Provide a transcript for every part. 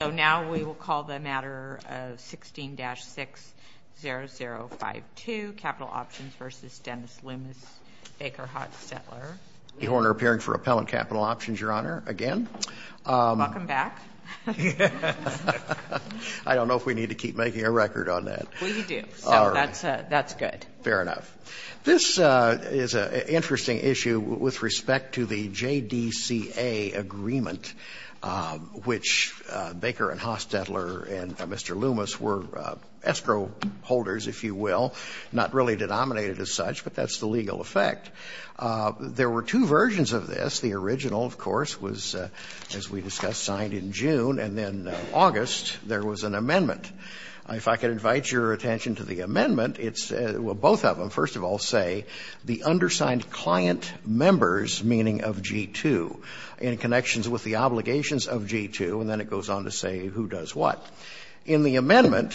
So now we will call the matter of 16-60052, Capital Options v. Dennis Loomis, Baker Hodge Settler. Lee Horner, appearing for Appellant Capital Options, Your Honor, again. Welcome back. I don't know if we need to keep making a record on that. We do, so that's good. Fair enough. This is an interesting issue with respect to the JDCA agreement, which Baker and Hoss Settler and Mr. Loomis were escrow holders, if you will, not really denominated as such, but that's the legal effect. There were two versions of this. The original, of course, was, as we discussed, signed in June, and then in August there was an amendment. If I could invite your attention to the amendment, it's, well, both of them, first of all, say the undersigned client members, meaning of G-2, in connections with the obligations of G-2, and then it goes on to say who does what. In the amendment,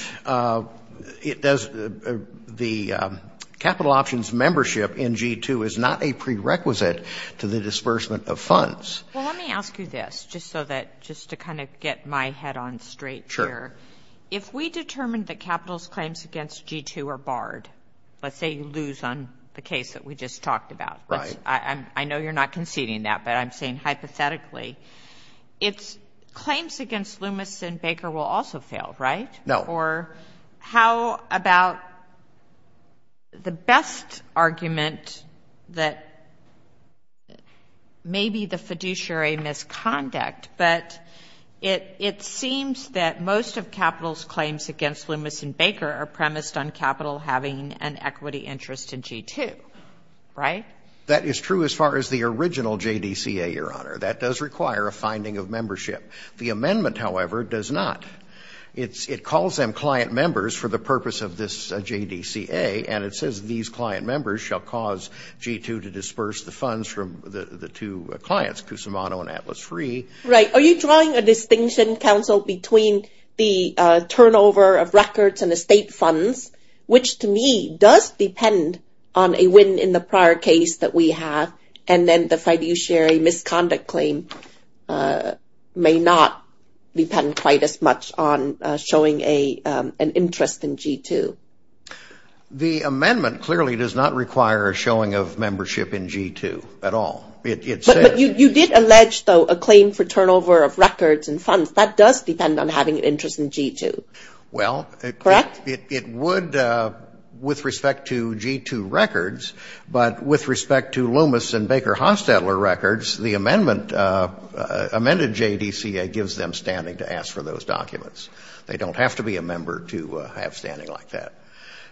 it does, the capital options membership in G-2 is not a prerequisite to the disbursement of funds. Well, let me ask you this, just so that, just to kind of get my head on straight here. Sure. If we determine that capital's claims against G-2 are barred, let's say you lose on the case that we just talked about. Right. I know you're not conceding that, but I'm saying hypothetically, it's claims against Loomis and Baker will also fail, right? No. Or how about the best argument that maybe the fiduciary misconduct, but it seems that most of capital's claims against Loomis and Baker are premised on capital having an equity interest in G-2, right? That is true as far as the original JDCA, Your Honor. That does require a finding of membership. The amendment, however, does not. It calls them client members for the purpose of this JDCA, and it says these client members shall cause G-2 to disperse the funds from the two clients, Cusimano and Atlas Free. Right. Are you drawing a distinction, counsel, between the turnover of records and estate funds, which to me does depend on a win in the prior case that we have, and then the fiduciary misconduct claim may not depend quite as much on showing an interest in G-2? The amendment clearly does not require a showing of membership in G-2 at all. But you did allege, though, a claim for turnover of records and funds. That does depend on having an interest in G-2, correct? Well, it would with respect to G-2 records, but with respect to Loomis and Baker-Hanstettler records, the amendment, amended JDCA, gives them standing to ask for those documents. They don't have to be a member to have standing like that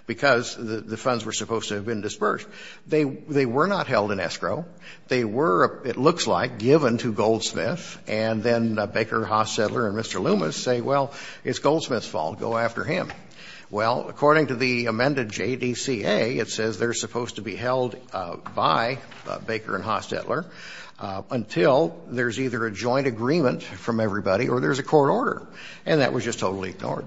because the funds were supposed to have been dispersed. They were not held in escrow. They were, it looks like, given to Goldsmith, and then Baker-Hanstettler and Mr. Loomis say, well, it's Goldsmith's fault. Go after him. Well, according to the amended JDCA, it says they're supposed to be held by Baker and Hanstettler until there's either a joint agreement from everybody or there's a court order, and that was just totally ignored.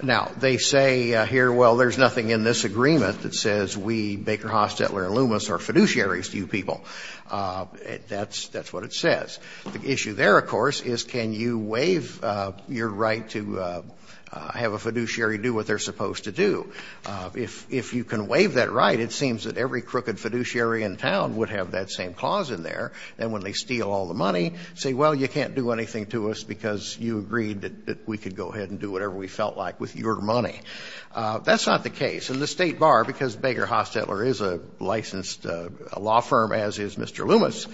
Now, they say here, well, there's nothing in this agreement that says we, Baker-Hanstettler and Loomis, are fiduciaries to you people. That's what it says. The issue there, of course, is can you waive your right to have a fiduciary do what they're supposed to do. If you can waive that right, it seems that every crooked fiduciary in town would have that same clause in there. And when they steal all the money, say, well, you can't do anything to us because you agreed that we could go ahead and do whatever we felt like with your money. That's not the case. And the State Bar, because Baker-Hanstettler is a licensed law firm, as is Mr. Loomis,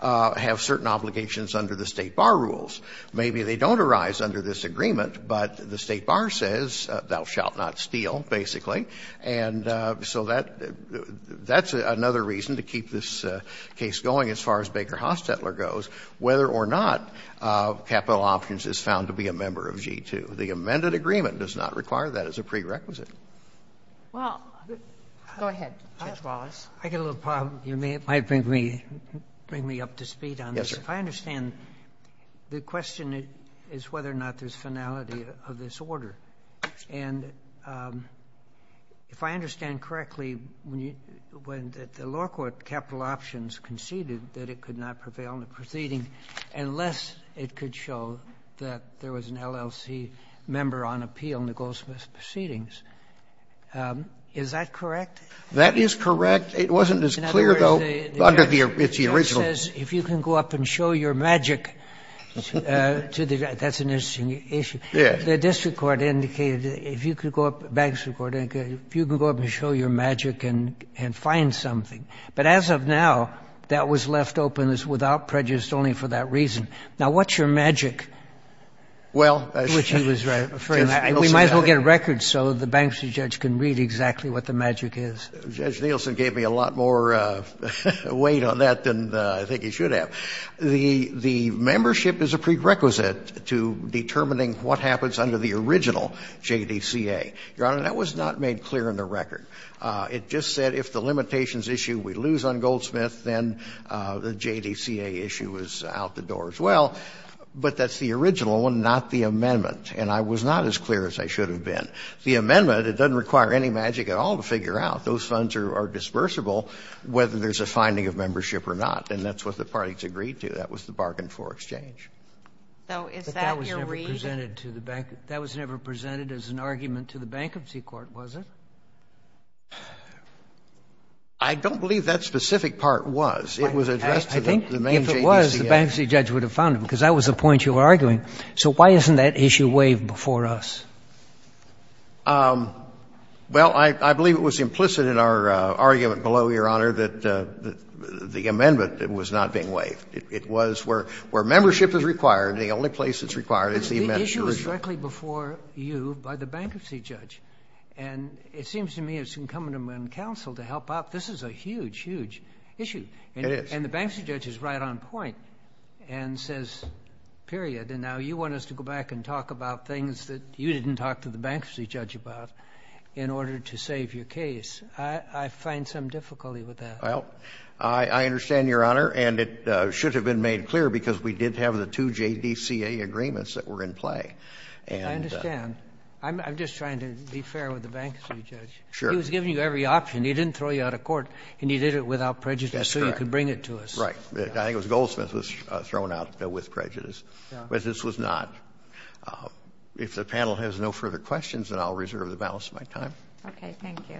have certain obligations under the State Bar rules. Maybe they don't arise under this agreement, but the State Bar says thou shalt not steal, basically. And so that's another reason to keep this case going as far as Baker-Hanstettler goes, whether or not capital options is found to be a member of G-2. The amended agreement does not require that as a prerequisite. Well, go ahead, Judge Wallace. I've got a little problem. You might bring me up to speed on this. If I understand, the question is whether or not there's finality of this order. And if I understand correctly, when the law court capital options conceded that it could not prevail in the proceeding unless it could show that there was an LLC member on appeal in the Goldsmith's proceedings. Is that correct? That is correct. It wasn't as clear, though, under the original. If you can go up and show your magic to the judge, that's an interesting issue. The district court indicated, if you could go up, the bank district court indicated, if you could go up and show your magic and find something. But as of now, that was left open without prejudice only for that reason. Now, what's your magic? Well, Judge Nielsen. We might as well get a record so the bank district judge can read exactly what the magic is. Judge Nielsen gave me a lot more weight on that than I think he should have. The membership is a prerequisite to determining what happens under the original JDCA. Your Honor, that was not made clear in the record. It just said if the limitations issue we lose on Goldsmith, then the JDCA issue is out the door as well. But that's the original one, not the amendment. And I was not as clear as I should have been. The amendment, it doesn't require any magic at all to figure out. Those funds are disbursable whether there's a finding of membership or not. And that's what the parties agreed to. That was the bargain for exchange. So is that your read? But that was never presented to the bank — that was never presented as an argument to the bankruptcy court, was it? I don't believe that specific part was. It was addressed to the main JDCA. I think if it was, the bankruptcy judge would have found it, because that was the point you were arguing. So why isn't that issue waived before us? Well, I believe it was implicit in our argument below, Your Honor, that the amendment was not being waived. It was where membership is required, and the only place it's required is the amendment. But the issue is directly before you by the bankruptcy judge. And it seems to me it's incumbent upon counsel to help out. This is a huge, huge issue. It is. And the bankruptcy judge is right on point and says, period, and now you want us to go about things that you didn't talk to the bankruptcy judge about in order to save your case. I find some difficulty with that. Well, I understand, Your Honor, and it should have been made clear because we did have the two JDCA agreements that were in play. I understand. I'm just trying to be fair with the bankruptcy judge. Sure. He was giving you every option. He didn't throw you out of court, and he did it without prejudice so you could bring it to us. That's correct. Right. I think Goldsmith was thrown out with prejudice, but this was not. If the panel has no further questions, then I'll reserve the balance of my time. Okay. Thank you.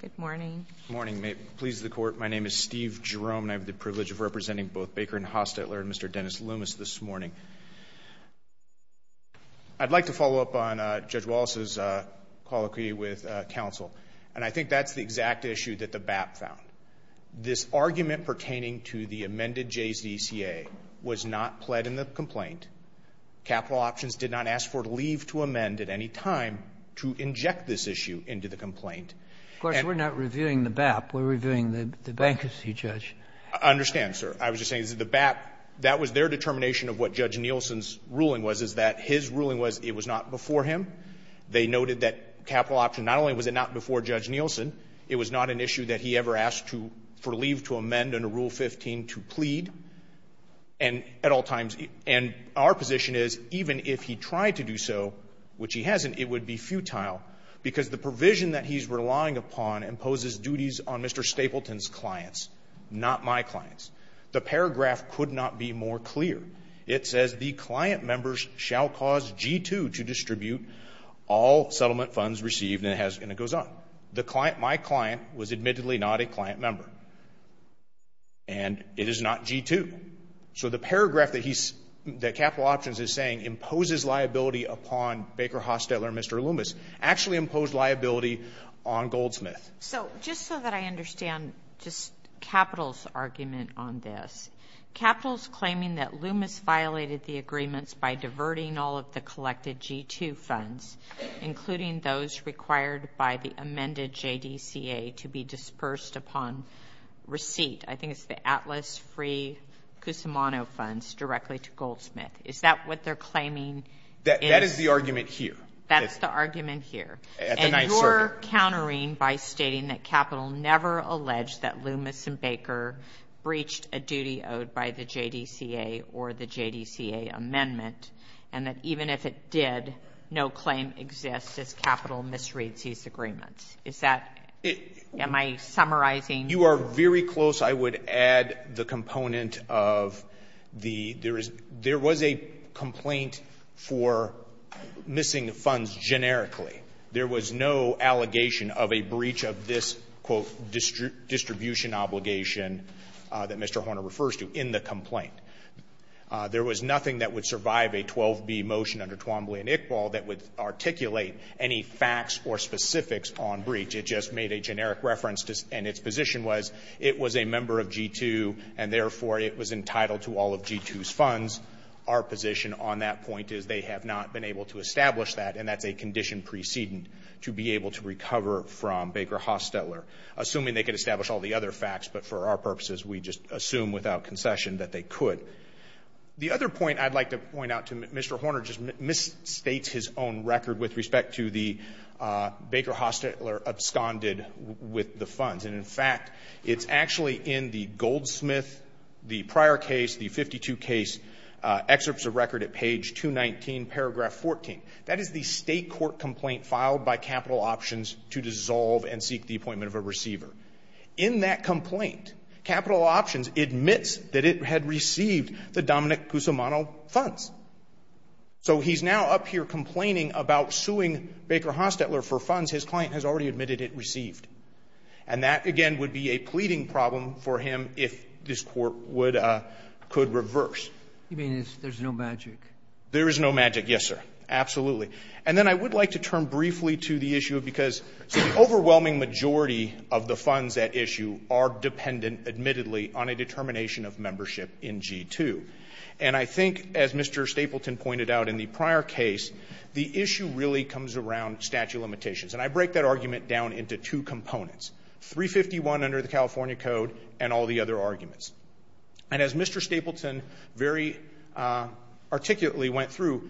Good morning. Good morning. May it please the Court, my name is Steve Jerome, and I have the privilege of representing both Baker and Hostetler and Mr. Dennis Loomis this morning. I'd like to follow up on Judge Wallace's colloquy with counsel, and I think that's the exact issue that the BAP found. This argument pertaining to the amended JDCA was not pled in the complaint. Capital Options did not ask for it to leave to amend at any time to inject this issue into the complaint. Of course, we're not reviewing the BAP. We're reviewing the bankruptcy judge. I understand, sir. I was just saying that the BAP, that was their determination of what Judge Nielsen's ruling was, is that his ruling was it was not before him. They noted that Capital Option, not only was it not before Judge Nielsen, it was not an issue that he ever asked for leave to amend under Rule 15 to plead. And at all times, and our position is even if he tried to do so, which he hasn't, it would be futile because the provision that he's relying upon imposes duties on Mr. Stapleton's clients, not my clients. The paragraph could not be more clear. It says, the client members shall cause G2 to distribute all settlement funds received, and it goes on. My client was admittedly not a client member, and it is not G2. So the paragraph that Capital Options is saying imposes liability upon Baker Hostetler and Mr. Loomis actually imposed liability on Goldsmith. So just so that I understand Capital's argument on this, Capital's claiming that Loomis violated the agreements by diverting all of the collected G2 funds, including those required by the amended JDCA to be dispersed upon receipt. I think it's the Atlas Free Cusimano funds directly to Goldsmith. Is that what they're claiming? That is the argument here. That's the argument here. And you're countering by stating that Capital never alleged that Loomis and Baker breached a duty owed by the JDCA or the JDCA amendment, and that even if it did, no claim exists as Capital misreads these agreements. Is that, am I summarizing? You are very close. I would add the component of the, there was a complaint for missing funds generically. There was no allegation of a breach of this, quote, distribution obligation that Mr. Horner refers to in the complaint. There was nothing that would survive a 12B motion under Twombly and Iqbal that would articulate any facts or specifics on breach. It just made a generic reference and its position was it was a member of G2 and therefore it was entitled to all of G2's funds. Our position on that point is they have not been able to establish that and that's a condition precedent to be able to recover from Baker-Hostetler. Assuming they could establish all the other facts, but for our purposes we just assume without concession that they could. The other point I'd like to point out to Mr. Horner just misstates his own record with respect to the Baker-Hostetler absconded with the funds. And in fact, it's actually in the Goldsmith, the prior case, the 52 case, excerpts of record at page 219, paragraph 14. That is the State court complaint filed by Capital Options to dissolve and seek the appointment of a receiver. In that complaint, Capital Options admits that it had received the Dominic Cusimano funds. So he's now up here complaining about suing Baker-Hostetler for funds his client has already admitted it received. And that, again, would be a pleading problem for him if this Court would, could reverse. You mean there's no magic? There is no magic, yes, sir. Absolutely. And then I would like to turn briefly to the issue because the overwhelming majority of the funds at issue are dependent, admittedly, on a determination of membership in G-2. And I think, as Mr. Stapleton pointed out in the prior case, the issue really comes around statute of limitations. And I break that argument down into two components, 351 under the California Code and all the other arguments. And as Mr. Stapleton very articulately went through,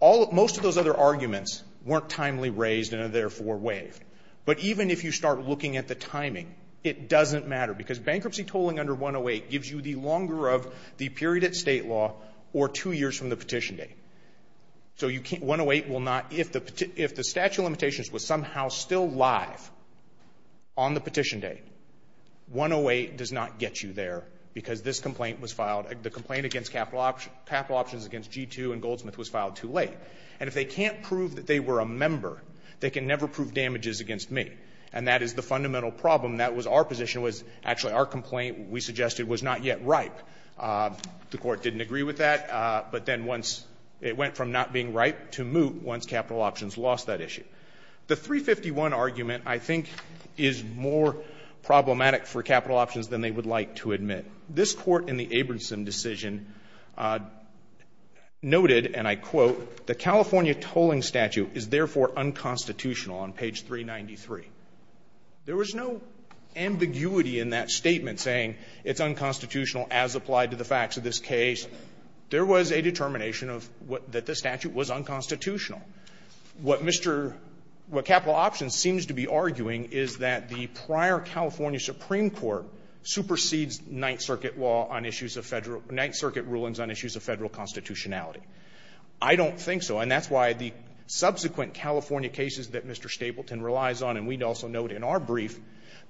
all, most of those other arguments weren't timely raised and are therefore waived. But even if you start looking at the timing, it doesn't matter. Because bankruptcy tolling under 108 gives you the longer of the period at state law or two years from the petition date. So you can't, 108 will not, if the statute of limitations was somehow still live on the petition date, 108 does not get you there because this complaint was filed, the complaint against capital options against G-2 and Goldsmith was filed too late. And if they can't prove that they were a member, they can never prove damages against me. And that is the fundamental problem. That was our position, was actually our complaint we suggested was not yet ripe. The court didn't agree with that. But then once, it went from not being ripe to moot once capital options lost that issue. The 351 argument, I think, is more problematic for capital options than they would like to admit. This Court in the Abramson decision noted, and I quote, the California tolling statute is therefore unconstitutional on page 393. There was no ambiguity in that statement saying it's unconstitutional as applied to the facts of this case. There was a determination of what, that the statute was unconstitutional. What Mr., what capital options seems to be arguing is that the prior California Supreme Court supersedes Ninth Circuit law on issues of Federal, Ninth Circuit rulings on issues of Federal constitutionality. I don't think so, and that's why the subsequent California cases that Mr. Stapleton relies on, and we'd also note in our brief,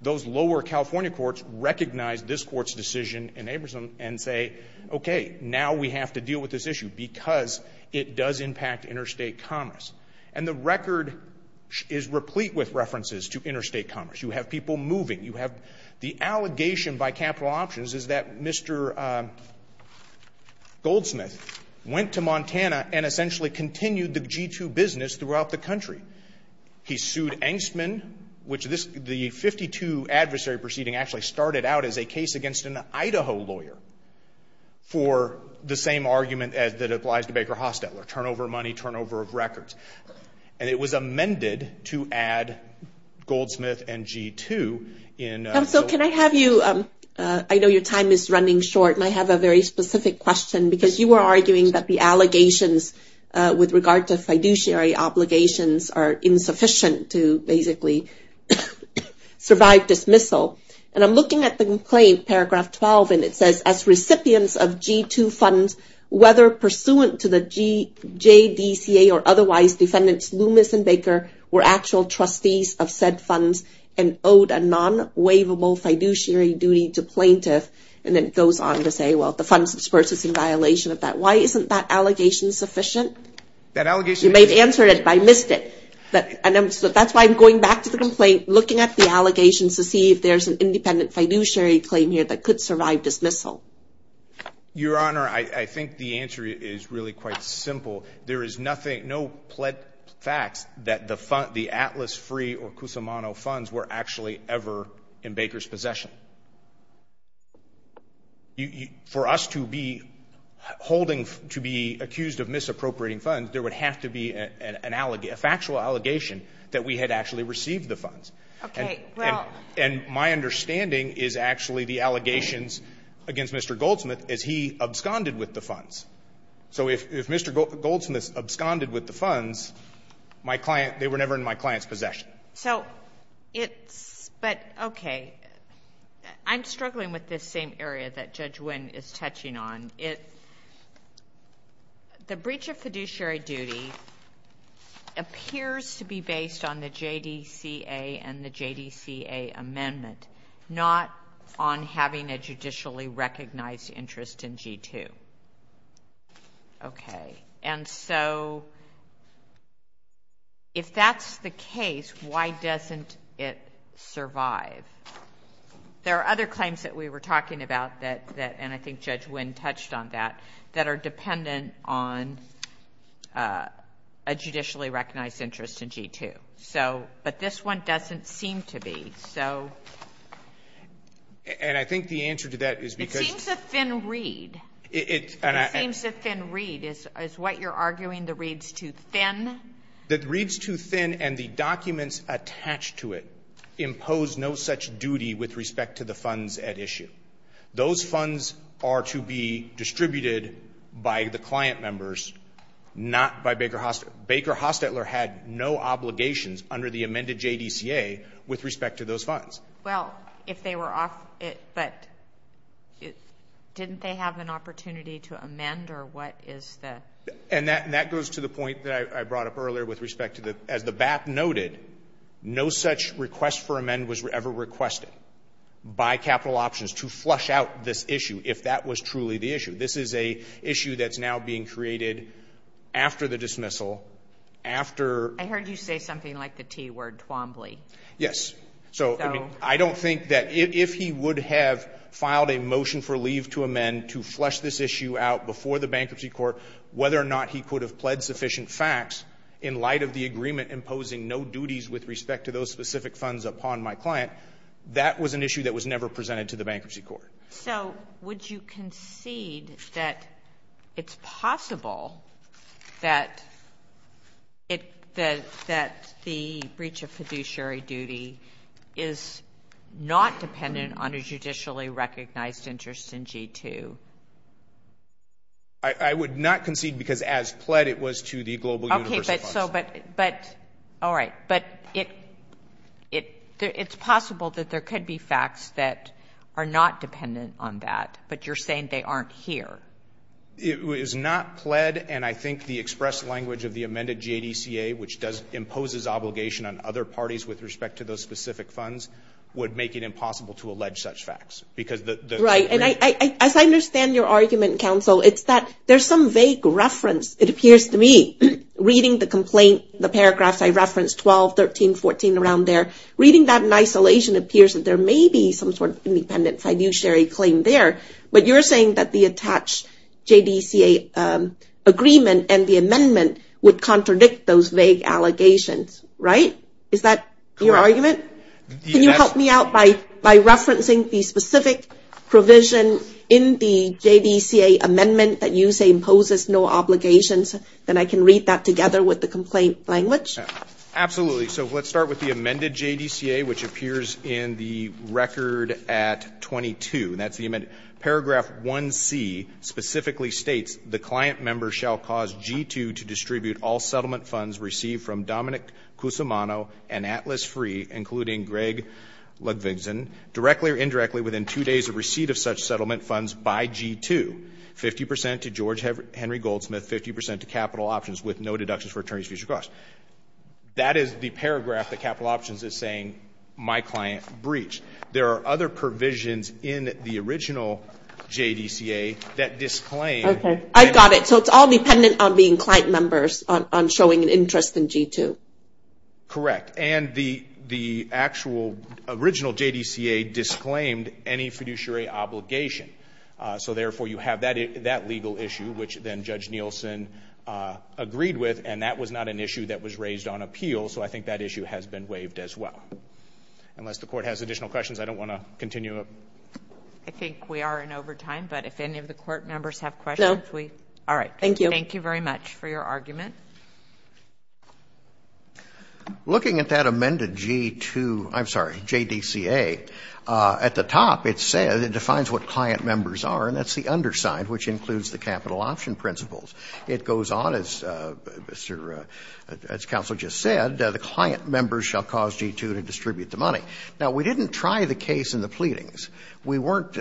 those lower California courts recognize this Court's decision in Abramson and say, okay, now we have to And the record is replete with references to interstate commerce. You have people moving. You have the allegation by capital options is that Mr. Goldsmith went to Montana and essentially continued the G-2 business throughout the country. He sued Engstman, which this, the 52 adversary proceeding actually started out as a case against an Idaho lawyer for the same argument that applies to Baker Hostetler, turnover of money, turnover of records. And it was amended to add Goldsmith and G-2 in- So can I have you, I know your time is running short, and I have a very specific question because you were arguing that the allegations with regard to fiduciary obligations are insufficient to basically survive dismissal. And I'm looking at the complaint, paragraph 12, and it says, as recipients of G-2 funds, whether pursuant to the JDCA or otherwise, defendants Loomis and Baker were actual trustees of said funds and owed a non-waivable fiduciary duty to plaintiff. And then it goes on to say, well, the funds disbursed is in violation of that. Why isn't that allegation sufficient? That allegation- You may have answered it, but I missed it. So that's why I'm going back to the complaint, looking at the allegations to see if there's an independent fiduciary claim here that could survive dismissal. Your Honor, I think the answer is really quite simple. There is nothing- no pled facts that the Atlas Free or Cusumano funds were actually ever in Baker's possession. For us to be holding- to be accused of misappropriating funds, there would have to be a factual allegation that we had actually received the funds. Okay, well- And my understanding is actually the allegations against Mr. Goldsmith is he absconded with the funds. So if Mr. Goldsmith absconded with the funds, my client- they were never in my client's possession. So it's- but okay. I'm struggling with this same area that Judge Wynn is touching on. It- the breach of fiduciary duty appears to be based on the JDCA and the JDCA amendment, not on having a judicially recognized interest in G2. Okay. And so if that's the case, why doesn't it survive? There are other claims that we were talking about that- and I think Judge Wynn touched on that- that are dependent on a judicially recognized interest in G2. So- but this one doesn't seem to be. So- And I think the answer to that is because- It seems a thin read. It- and I- It seems a thin read. Is what you're arguing the read's too thin? That the read's too thin and the documents attached to it impose no such duty with respect to the funds at issue. Those funds are to be distributed by the client members, not by Baker- Baker Hostetler had no obligations under the amended JDCA with respect to those funds. Well, if they were- but didn't they have an opportunity to amend or what is the- And that goes to the point that I brought up earlier with respect to the- as the BAP noted, no such request for amend was ever requested by Capital Options to flush out this issue if that was truly the issue. This is a issue that's now being created after the dismissal, after- I heard you say something like the T word, Twombly. Yes. So, I mean, I don't think that if he would have filed a motion for leave to amend to flush this issue out before the bankruptcy court, whether or not he could have pled sufficient facts in light of the agreement imposing no duties with respect to those specific funds upon my client, that was an issue that was never presented to the bankruptcy court. So, would you concede that it's possible that it- that the breach of fiduciary duty is not dependent on a judicially recognized interest in G2? I would not concede because as pled it was to the Global Universal Funds. Okay, but- so, but- but- all right. But it- it- it's possible that there could be facts that are not dependent on that, but you're saying they aren't here. It was not pled and I think the express language of the amended JDCA, which does- imposes obligation on other parties with respect to those specific funds would make it impossible to allege such facts because the- Right. And I- I- as I understand your argument, counsel, it's that there's some vague reference, it appears to me, reading the complaint, the paragraphs I referenced, 12, 13, 14, around there. Reading that in isolation appears that there may be some sort of independent fiduciary claim there, but you're saying that the attached JDCA agreement and the amendment would contradict those vague allegations, right? Correct. Is that your argument? The- Can you help me out by- by referencing the specific provision in the JDCA amendment that you say imposes no obligations, then I can read that together with the complaint language? Absolutely. So let's start with the amended JDCA, which appears in the record at 22, and that's the amended- paragraph 1C specifically states, the client member shall cause G2 to distribute all settlement funds received from Dominic Cusimano and Atlas Free, including Greg Ludwigson, directly or indirectly within two days of receipt of such settlement funds by G2, 50 percent to George Henry Goldsmith, 50 percent to Capital Options with no deductions for attorney's future costs. That is the paragraph that Capital Options is saying, my client breached. Okay. I've got it. So it's all dependent on being client members on showing an interest in G2. Correct. And the actual original JDCA disclaimed any fiduciary obligation. So therefore, you have that legal issue, which then Judge Nielsen agreed with, and that was not an issue that was raised on appeal, so I think that issue has been waived as well. Unless the court has additional questions, I don't want to continue. I think we are in overtime, but if any of the court members have questions, we- No. All right. Thank you. Thank you very much for your argument. Looking at that amended G2, I'm sorry, JDCA, at the top it said, it defines what client members are, and that's the underside, which includes the Capital Option principles. It goes on, as Counsel just said, the client members shall cause G2 to distribute the money. Now, we didn't try the case in the pleadings. We weren't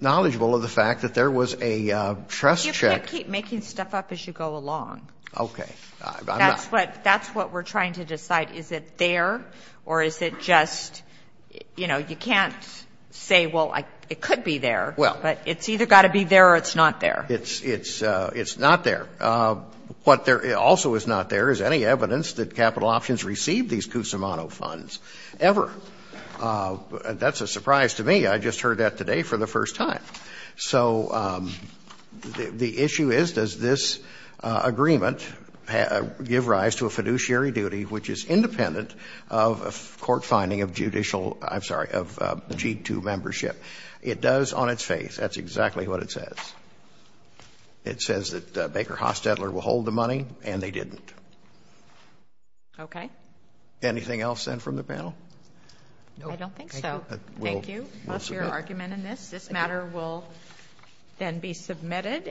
knowledgeable of the fact that there was a trust check- You can't keep making stuff up as you go along. Okay. I'm not- That's what we're trying to decide. Is it there or is it just, you know, you can't say, well, it could be there. Well- But it's either got to be there or it's not there. It's not there. What also is not there is any evidence that Capital Options received these Cusimano funds ever. That's a surprise to me. I just heard that today for the first time. So the issue is, does this agreement give rise to a fiduciary duty which is independent of a court finding of judicial- I'm sorry, of G2 membership? It does on its face. That's exactly what it says. It says that Baker-Haas-Tedler will hold the money, and they didn't. Okay. Anything else then from the panel? No. I don't think so. Thank you. That's your argument in this. This matter will then be submitted.